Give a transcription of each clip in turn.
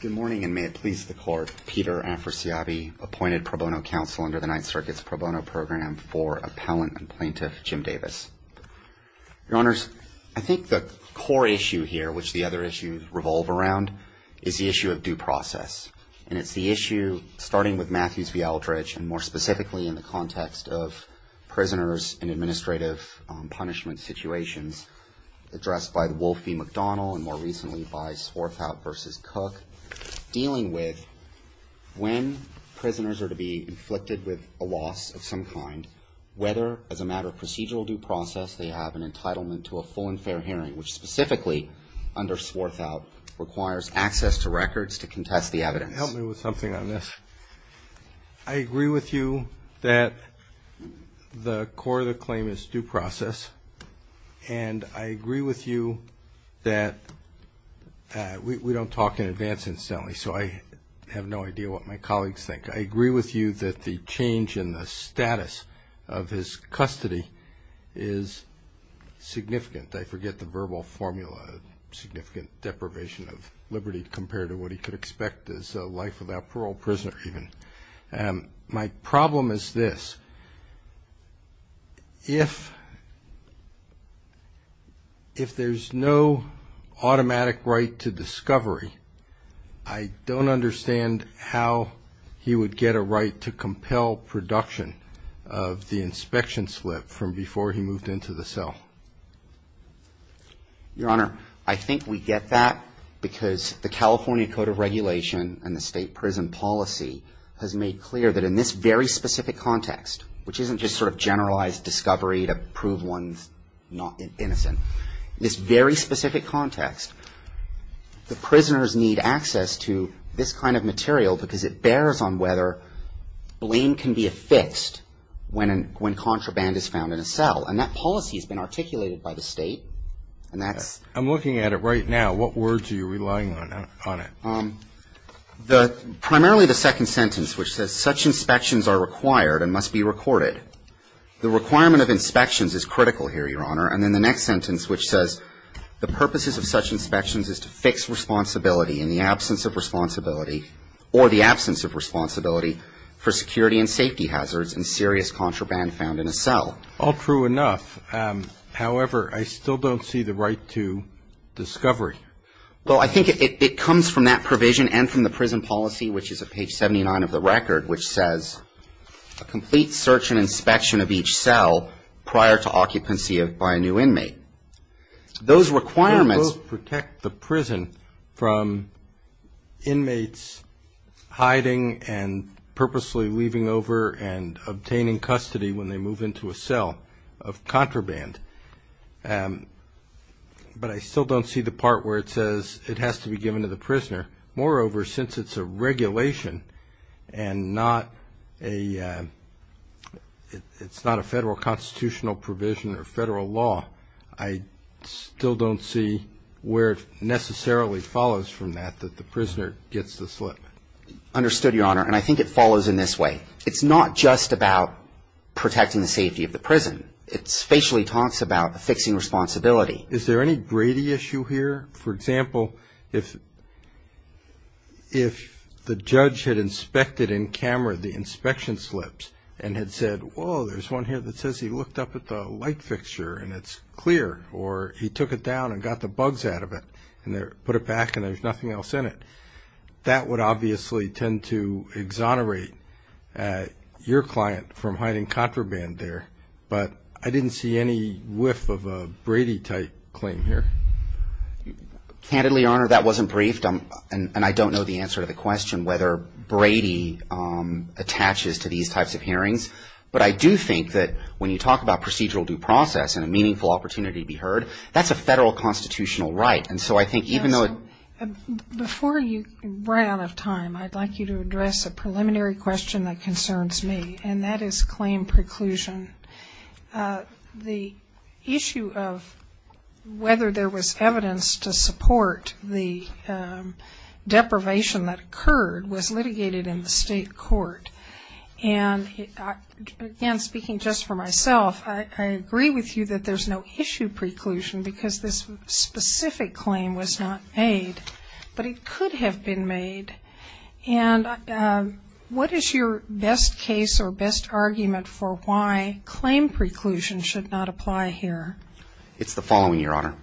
Good morning, and may it please the court, Peter Afrasiabi, appointed pro bono counsel under the Ninth Circuit's pro bono program for appellant and plaintiff Jim Davis. Your Honors, I think the core issue here, which the other issues revolve around, is the issue of due process. And it's the issue, starting with Matthews v. Aldridge, and more specifically in the context of prisoners in administrative punishment situations, addressed by the Wolf v. McDonnell, and more recently by Swarthout v. Cook, dealing with when prisoners are to be inflicted with a loss of some kind, whether, as a matter of procedural due process, they have an entitlement to a full and fair hearing, which specifically under Swarthout requires access to records to contest the evidence. Help me with something on this. I agree with you that the core of the claim is due process, and I agree with you that we don't talk in advance, incidentally, so I have no idea what my colleagues think. I agree with you that the change in the status of his custody is significant. I forget the verbal formula, significant deprivation of liberty, compared to what he could expect as a life without parole, prisoner even. My problem is this. If there's no automatic right to discovery, I don't understand how he would get a right to compel production of the inspection slip from before he moved into the cell. Your Honor, I think we get that because the California Code of Regulation and the state prison policy has made clear that in this very specific context, which isn't just sort of generalized discovery to prove one's innocent, this very specific context, the prisoners need access to this kind of material because it bears on whether blame can be affixed when contraband is found in a cell, and that policy has been articulated by the state. I'm looking at it right now. What words are you relying on on it? Primarily the second sentence, which says, such inspections are required and must be recorded. The requirement of inspections is critical here, Your Honor. And then the next sentence, which says, the purposes of such inspections is to fix responsibility in the absence of responsibility or the absence of responsibility for security and safety hazards and serious contraband found in a cell. All true enough. However, I still don't see the right to discovery. Well, I think it comes from that provision and from the prison policy, which is at page 79 of the record, which says a complete search and inspection of each cell prior to occupancy by a new inmate. Those requirements protect the prison from inmates hiding and purposely leaving over and obtaining custody when they move into a cell of contraband. But I still don't see the part where it says it has to be given to the prisoner. Moreover, since it's a regulation and it's not a federal constitutional provision or federal law, I still don't see where it necessarily follows from that that the prisoner gets the slip. Understood, Your Honor. And I think it follows in this way. It's not just about protecting the safety of the prison. It spatially talks about fixing responsibility. Is there any grady issue here? For example, if the judge had inspected in camera the inspection slips and had said, whoa, there's one here that says he looked up at the light fixture and it's clear or he took it down and got the bugs out of it and put it back and there's nothing else in it, that would obviously tend to exonerate your client from hiding contraband there. But I didn't see any whiff of a Brady type claim here. Candidly, Your Honor, that wasn't briefed. And I don't know the answer to the question whether Brady attaches to these types of hearings. But I do think that when you talk about procedural due process and a meaningful opportunity to be heard, that's a federal constitutional right. Before you run out of time, I'd like you to address a preliminary question that concerns me, and that is claim preclusion. The issue of whether there was evidence to support the deprivation that occurred was litigated in the state court. And again, speaking just for myself, I agree with you that there's no issue preclusion because this specific claim was not made, but it could have been made. And what is your best case or best argument for why claim preclusion should not apply here? It's the following, Your Honor.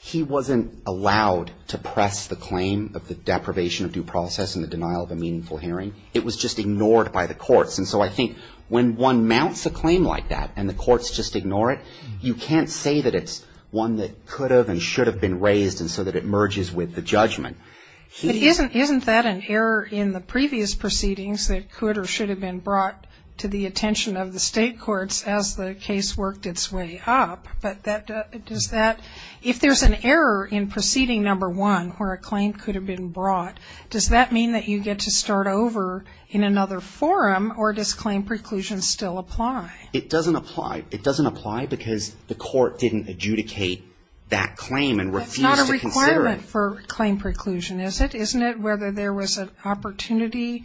He wasn't allowed to press the claim of the deprivation of due process and the denial of a meaningful hearing. It was just ignored by the courts. And so I think when one mounts a claim like that and the courts just ignore it, you can't say that it's one that could have and should have been raised and so that it merges with the judgment. Isn't that an error in the previous proceedings that could or should have been brought to the attention of the state courts as the case worked its way up? But does that ‑‑ if there's an error in proceeding number one where a claim could have been brought, does that mean that you get to start over in another forum, or does claim preclusion still apply? It doesn't apply. It doesn't apply because the court didn't adjudicate that claim and refused to consider it. That's not a requirement for claim preclusion, is it? Isn't it whether there was an opportunity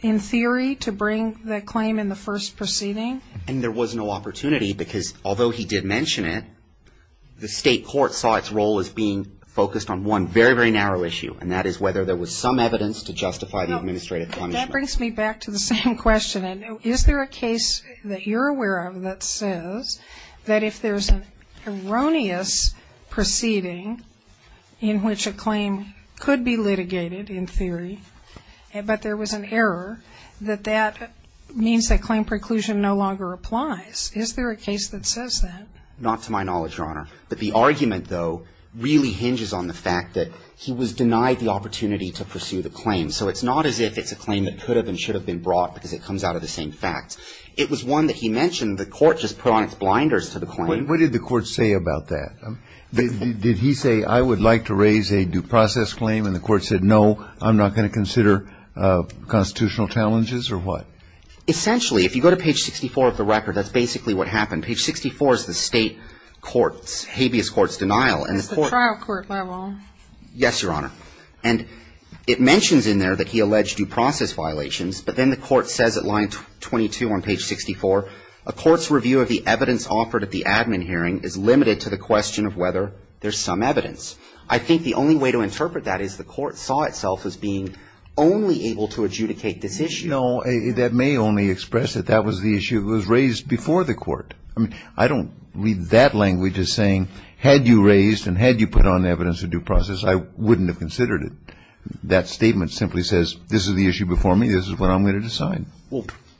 in theory to bring the claim in the first proceeding? And there was no opportunity because although he did mention it, the state court saw its role as being focused on one very, very narrow issue, and that is whether there was some evidence to justify the administrative punishment. That brings me back to the same question. Is there a case that you're aware of that says that if there's an erroneous proceeding in which a claim could be litigated in theory, but there was an error, that that means that claim preclusion no longer applies? Is there a case that says that? Not to my knowledge, Your Honor. But the argument, though, really hinges on the fact that he was denied the opportunity to pursue the claim. So it's not as if it's a claim that could have and should have been brought because it comes out of the same facts. It was one that he mentioned. The court just put on its blinders to the claim. What did the court say about that? Did he say, I would like to raise a due process claim, and the court said, no, I'm not going to consider constitutional challenges, or what? Essentially, if you go to page 64 of the record, that's basically what happened. Page 64 is the state court's, habeas court's denial. It's the trial court, my wrong. Yes, Your Honor. And it mentions in there that he alleged due process violations, but then the court says at line 22 on page 64, a court's review of the evidence offered at the admin hearing is limited to the question of whether there's some evidence. I think the only way to interpret that is the court saw itself as being only able to adjudicate this issue. No, that may only express that that was the issue that was raised before the court. I mean, I don't read that language as saying, had you raised and had you put on evidence a due process, I wouldn't have considered it. That statement simply says, this is the issue before me. This is what I'm going to decide.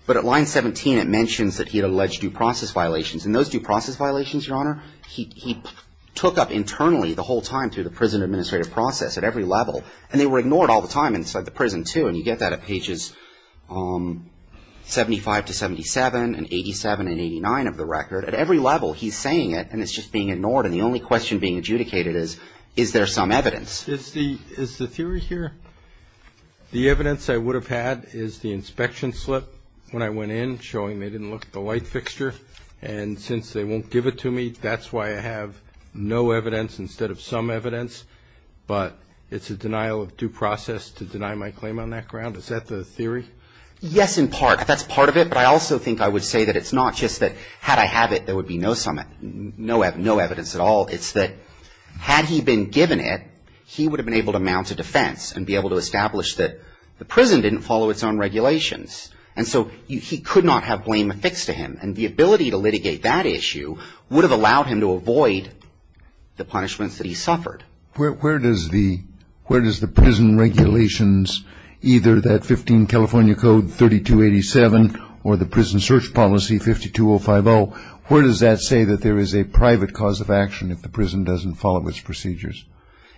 But at line 17, it mentions that he had alleged due process violations, and those due process violations, Your Honor, he took up internally the whole time through the prison administrative process at every level, and they were ignored all the time inside the prison, too. And you get that at pages 75 to 77 and 87 and 89 of the record. At every level, he's saying it, and it's just being ignored, and the only question being adjudicated is, is there some evidence? Is the theory here the evidence I would have had is the inspection slip when I went in, showing they didn't look at the light fixture, and since they won't give it to me, that's why I have no evidence instead of some evidence, but it's a denial of due process to deny my claim on that ground? Is that the theory? Yes, in part. That's part of it, but I also think I would say that it's not just that had I had it, there would be no evidence at all. It's that had he been given it, he would have been able to mount a defense and be able to establish that the prison didn't follow its own regulations, and so he could not have blame affixed to him, and the ability to litigate that issue would have allowed him to avoid the punishments that he suffered. Where does the prison regulations, either that 15 California Code 3287 or the prison search policy 52050, where does that say that there is a private cause of action if the prison doesn't follow its procedures?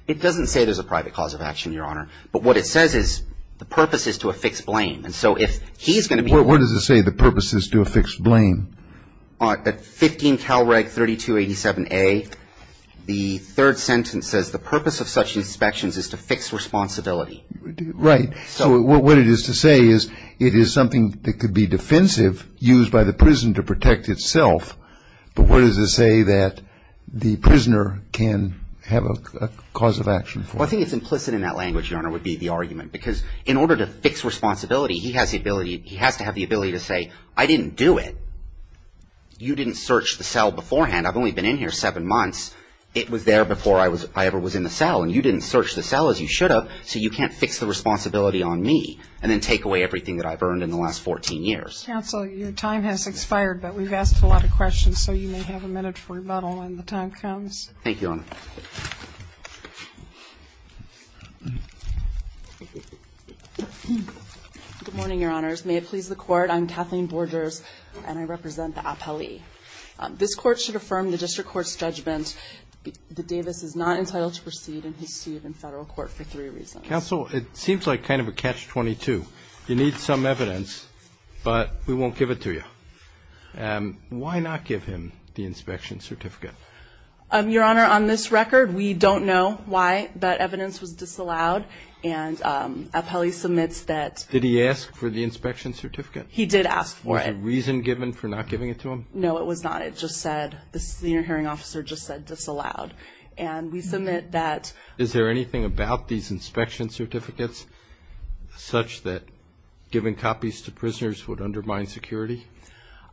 It doesn't say there's a private cause of action, Your Honor, but what it says is the purpose is to affix blame, and so if he's going to be... Where does it say the purpose is to affix blame? At 15 Calreg 3287A, the third sentence says the purpose of such inspections is to fix responsibility. Right. So what it is to say is it is something that could be defensive, used by the prison to protect itself, but what does it say that the prisoner can have a cause of action for? Well, I think it's implicit in that language, Your Honor, would be the argument, because in order to fix responsibility, he has the ability, he has to have the ability to say, I didn't do it. You didn't search the cell beforehand. I've only been in here seven months. It was there before I ever was in the cell, and you didn't search the cell as you should have, so you can't fix the responsibility on me and then take away everything that I've earned in the last 14 years. Counsel, your time has expired, but we've asked a lot of questions, so you may have a minute for rebuttal when the time comes. Thank you, Your Honor. Good morning, Your Honors. May it please the Court, I'm Kathleen Borgers, and I represent the appellee. This Court should affirm the district court's judgment that Davis is not entitled to proceed in his suit in federal court for three reasons. Counsel, it seems like kind of a catch-22. You need some evidence, but we won't give it to you. Why not give him the inspection certificate? Your Honor, on this record, we don't know why that evidence was disallowed, and appellee submits that. Did he ask for the inspection certificate? He did ask for it. Was there reason given for not giving it to him? No, it was not. It just said, the senior hearing officer just said disallowed. And we submit that. Is there anything about these inspection certificates, such that giving copies to prisoners would undermine security?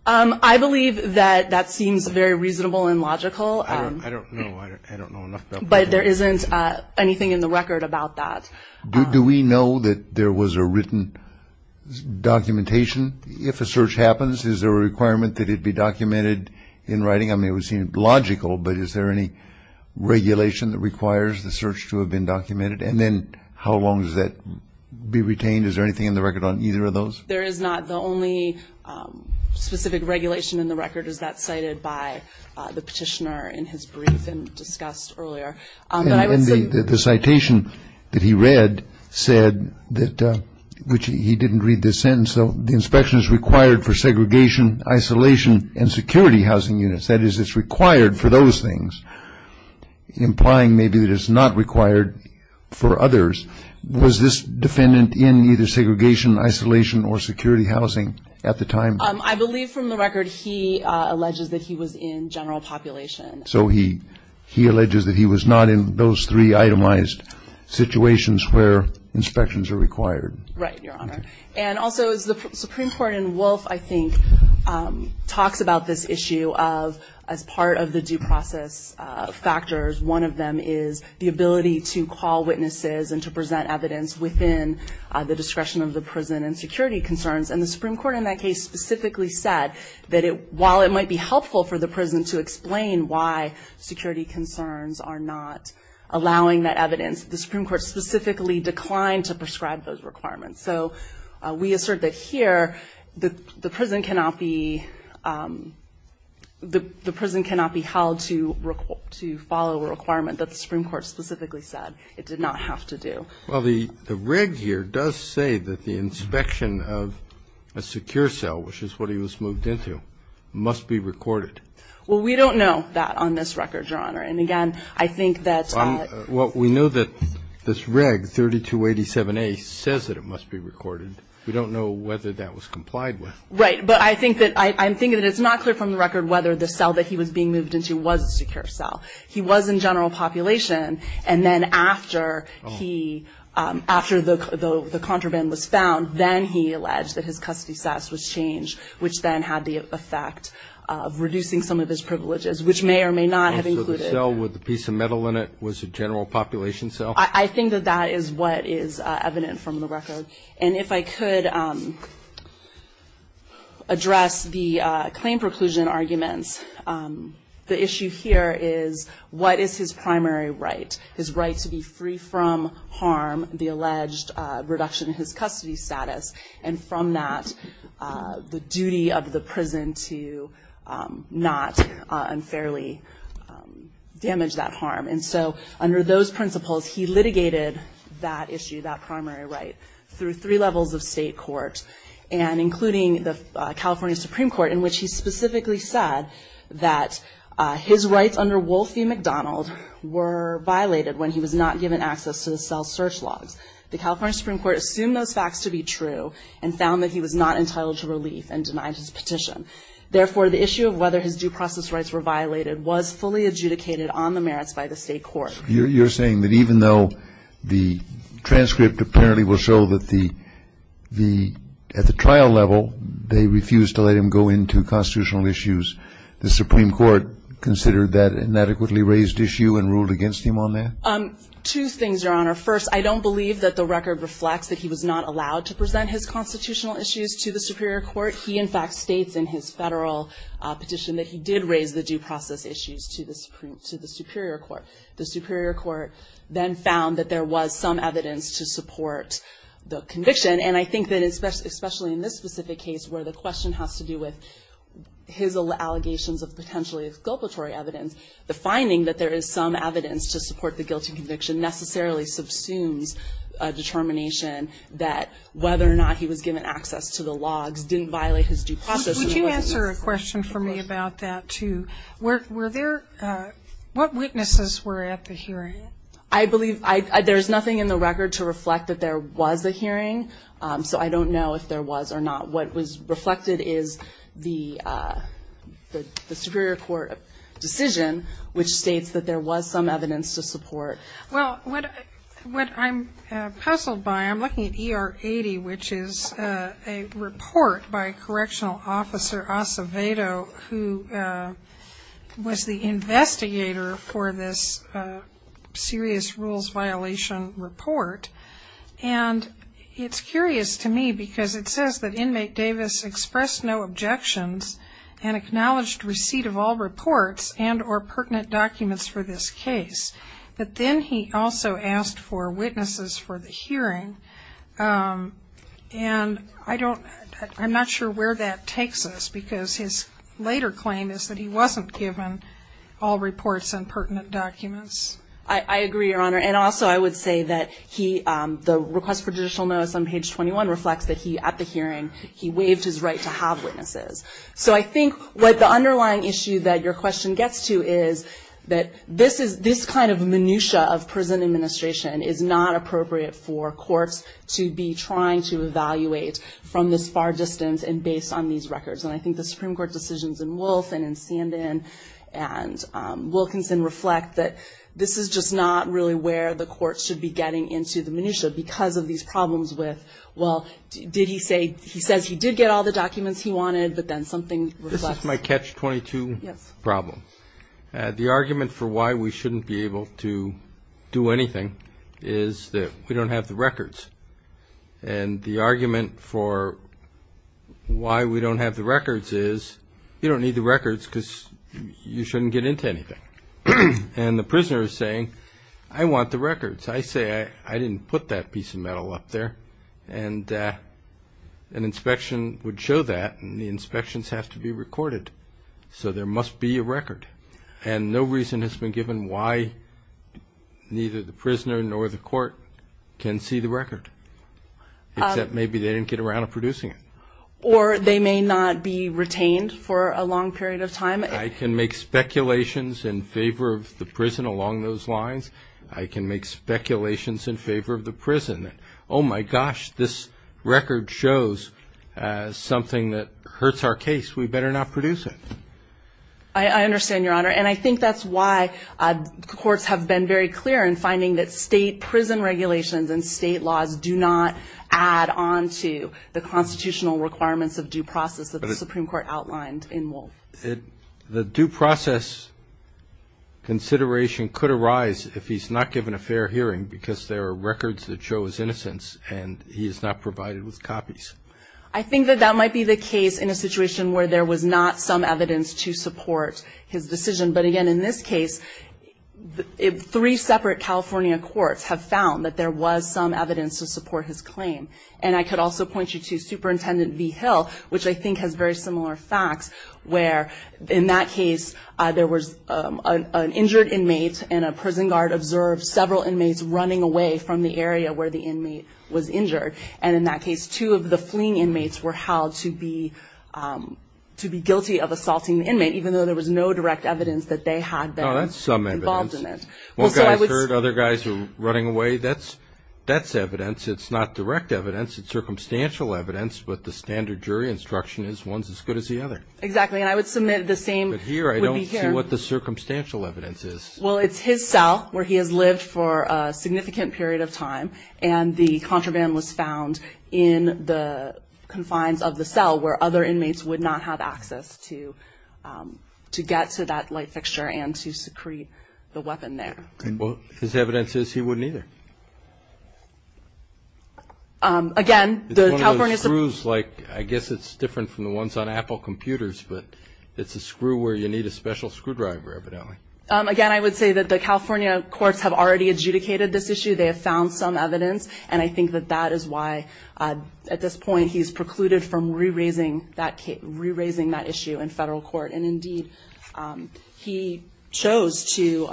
I believe that that seems very reasonable and logical. I don't know enough about that. But there isn't anything in the record about that. Do we know that there was a written documentation? If a search happens, is there a requirement that it be documented in writing? I mean, it would seem logical, but is there any regulation that requires the search to have been documented? And then how long does that be retained? Is there anything in the record on either of those? There is not. The only specific regulation in the record is that cited by the petitioner in his brief and discussed earlier. And the citation that he read said that, which he didn't read this sentence, the inspection is required for segregation, isolation, and security housing units. That is, it's required for those things, implying maybe that it's not required for others. Was this defendant in either segregation, isolation, or security housing at the time? I believe from the record he alleges that he was in general population. So he alleges that he was not in those three itemized situations where inspections are required. Right, Your Honor. And also, as the Supreme Court in Wolf, I think, talks about this issue of, as part of the due process factors, one of them is the ability to call witnesses and to present evidence within the discretion of the prison and security concerns. And the Supreme Court in that case specifically said that while it might be helpful for the prison to explain why security concerns are not allowing that evidence, the Supreme Court specifically declined to prescribe those requirements. So we assert that here the prison cannot be held to follow a requirement that the Supreme Court specifically said it did not have to do. Well, the reg here does say that the inspection of a secure cell, which is what he was moved into, must be recorded. Well, we don't know that on this record, Your Honor. And again, I think that ‑‑ Well, we know that this reg 3287A says that it must be recorded. We don't know whether that was complied with. Right. But I think that it's not clear from the record whether the cell that he was being moved into was a secure cell. He was in general population. And then after he ‑‑ after the contraband was found, then he alleged that his custody status was changed, which then had the effect of reducing some of his privileges, which may or may not have included ‑‑ So the cell with the piece of metal in it was a general population cell? I think that that is what is evident from the record. And if I could address the claim preclusion arguments, the issue here is what is his primary right, his right to be free from harm, the alleged reduction in his custody status, and from that, the duty of the prison to not unfairly damage that harm. And so under those principles, he litigated that issue, that primary right, through three levels of state court, and including the California Supreme Court, in which he specifically said that his rights under Wolf v. McDonald were violated when he was not given access to the cell search logs. The California Supreme Court assumed those facts to be true and found that he was not entitled to relief and denied his petition. Therefore, the issue of whether his due process rights were violated was fully adjudicated on the merits by the state court. You're saying that even though the transcript apparently will show that the ‑‑ at the trial level, they refused to let him go into constitutional issues, the Supreme Court considered that an adequately raised issue and ruled against him on that? Two things, Your Honor. First, I don't believe that the record reflects that he was not allowed to present his constitutional issues to the Superior Court. He, in fact, states in his federal petition that he did raise the due process issues to the Superior Court. The Superior Court then found that there was some evidence to support the conviction, and I think that especially in this specific case where the question has to do with his allegations of potentially exculpatory evidence, the finding that there is some evidence to support the guilty conviction necessarily subsumes a determination that whether or not he was given access to the logs didn't violate his due process. Would you answer a question for me about that, too? Were there ‑‑ what witnesses were at the hearing? I believe there's nothing in the record to reflect that there was a hearing, so I don't know if there was or not. What was reflected is the Superior Court decision, which states that there was some evidence to support. Well, what I'm puzzled by, I'm looking at ER 80, which is a report by Correctional Officer Acevedo, who was the investigator for this serious rules violation report, and it's curious to me because it says that inmate Davis expressed no objections and acknowledged receipt of all reports and or pertinent documents for this case. But then he also asked for witnesses for the hearing, and I don't ‑‑ I'm not sure where that takes us, because his later claim is that he wasn't given all reports and pertinent documents. I agree, Your Honor, and also I would say that he, the request for judicial notice on page 21 reflects that he, at the hearing, he waived his right to have witnesses. So I think what the underlying issue that your question gets to is that this kind of minutia of prison administration is not appropriate for courts to be trying to evaluate from this far distance and based on these records, and I think the Supreme Court decisions in Wolfe and in Sandin and Wilkinson reflect that this is just not really where the court should be getting into the minutia because of these problems with, well, did he say, he says he did get all the documents he wanted, but then something reflects. This is my catch-22 problem. The argument for why we shouldn't be able to do anything is that we don't have the records, and the argument for why we don't have the records is you don't need the records because you shouldn't get into anything. And the prisoner is saying, I want the records. I say, I didn't put that piece of metal up there, and an inspection would show that and the inspections have to be recorded. So there must be a record, and no reason has been given why neither the prisoner nor the court can see the record, except maybe they didn't get around to producing it. Or they may not be retained for a long period of time. I can make speculations in favor of the prison along those lines. I can make speculations in favor of the prison. Oh, my gosh, this record shows something that hurts our case. We better not produce it. I understand, Your Honor, and I think that's why courts have been very clear in finding that state prison regulations and state laws do not add on to the constitutional requirements of due process that the Supreme Court outlined in Wolf. The due process consideration could arise if he's not given a fair hearing because there are records that show his innocence, and he is not provided with copies. I think that that might be the case in a situation where there was not some evidence to support his decision. But, again, in this case, three separate California courts have found that there was some evidence to support his claim. And I could also point you to Superintendent V. Hill, which I think has very similar facts where, in that case, there was an injured inmate and a prison guard observed several inmates running away from the area where the inmate was injured. And in that case, two of the fleeing inmates were held to be guilty of assaulting the inmate, even though there was no direct evidence that they had been involved in it. Oh, that's some evidence. One guy's hurt, other guys are running away. That's evidence. It's not direct evidence. It's circumstantial evidence. But the standard jury instruction is one's as good as the other. Exactly, and I would submit the same would be here. But here I don't see what the circumstantial evidence is. Well, it's his cell where he has lived for a significant period of time, and the contraband was found in the confines of the cell where other inmates would not have access to get to that light fixture and to secrete the weapon there. Well, his evidence says he wouldn't either. Again, the California Supreme Court It's one of those screws, like, I guess it's different from the ones on Apple computers, but it's a screw where you need a special screwdriver, evidently. Again, I would say that the California courts have already adjudicated this issue. They have found some evidence, and I think that that is why at this point he's precluded from re-raising that issue in federal court. And, indeed, he chose to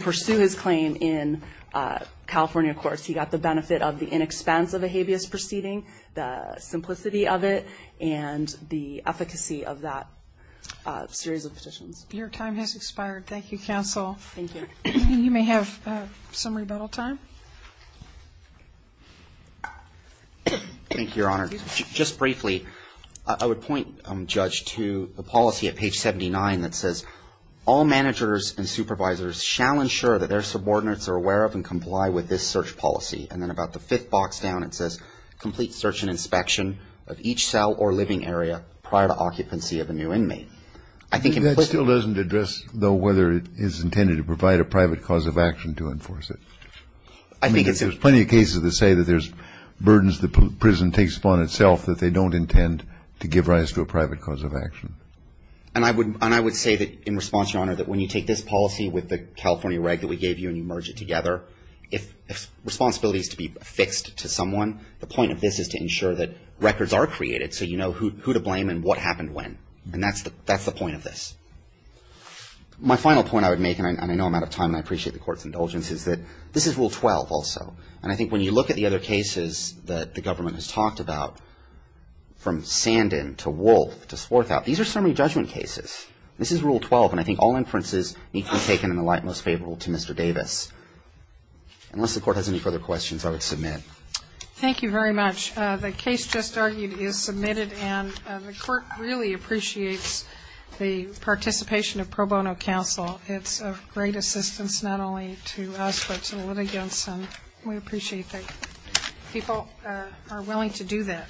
pursue his claim in California courts. He got the benefit of the inexpense of a habeas proceeding, the simplicity of it, and the efficacy of that series of petitions. Your time has expired. Thank you, counsel. Thank you. You may have some rebuttal time. Thank you, Your Honor. Just briefly, I would point, Judge, to the policy at page 79 that says, all managers and supervisors shall ensure that their subordinates are aware of and comply with this search policy. And then about the fifth box down, it says, complete search and inspection of each cell or living area prior to occupancy of a new inmate. That still doesn't address, though, whether it is intended to provide a private cause of action to enforce it. I think it's – There's plenty of cases that say that there's burdens the prison takes upon itself that they don't intend to give rise to a private cause of action. And I would say that, in response, Your Honor, that when you take this policy with the California reg that we gave you and you merge it together, if responsibility is to be affixed to someone, the point of this is to ensure that records are created so you know who to blame and what happened when. And that's the point of this. My final point I would make, and I know I'm out of time and I appreciate the Court's indulgence, is that this is Rule 12 also. And I think when you look at the other cases that the government has talked about, from Sandin to Wolfe to Swarthout, these are summary judgment cases. This is Rule 12, and I think all inferences need to be taken in the light most favorable to Mr. Davis. Unless the Court has any further questions, I would submit. Thank you very much. The case just argued is submitted, and the Court really appreciates the participation of pro bono counsel. It's of great assistance not only to us but to the litigants, and we appreciate that people are willing to do that.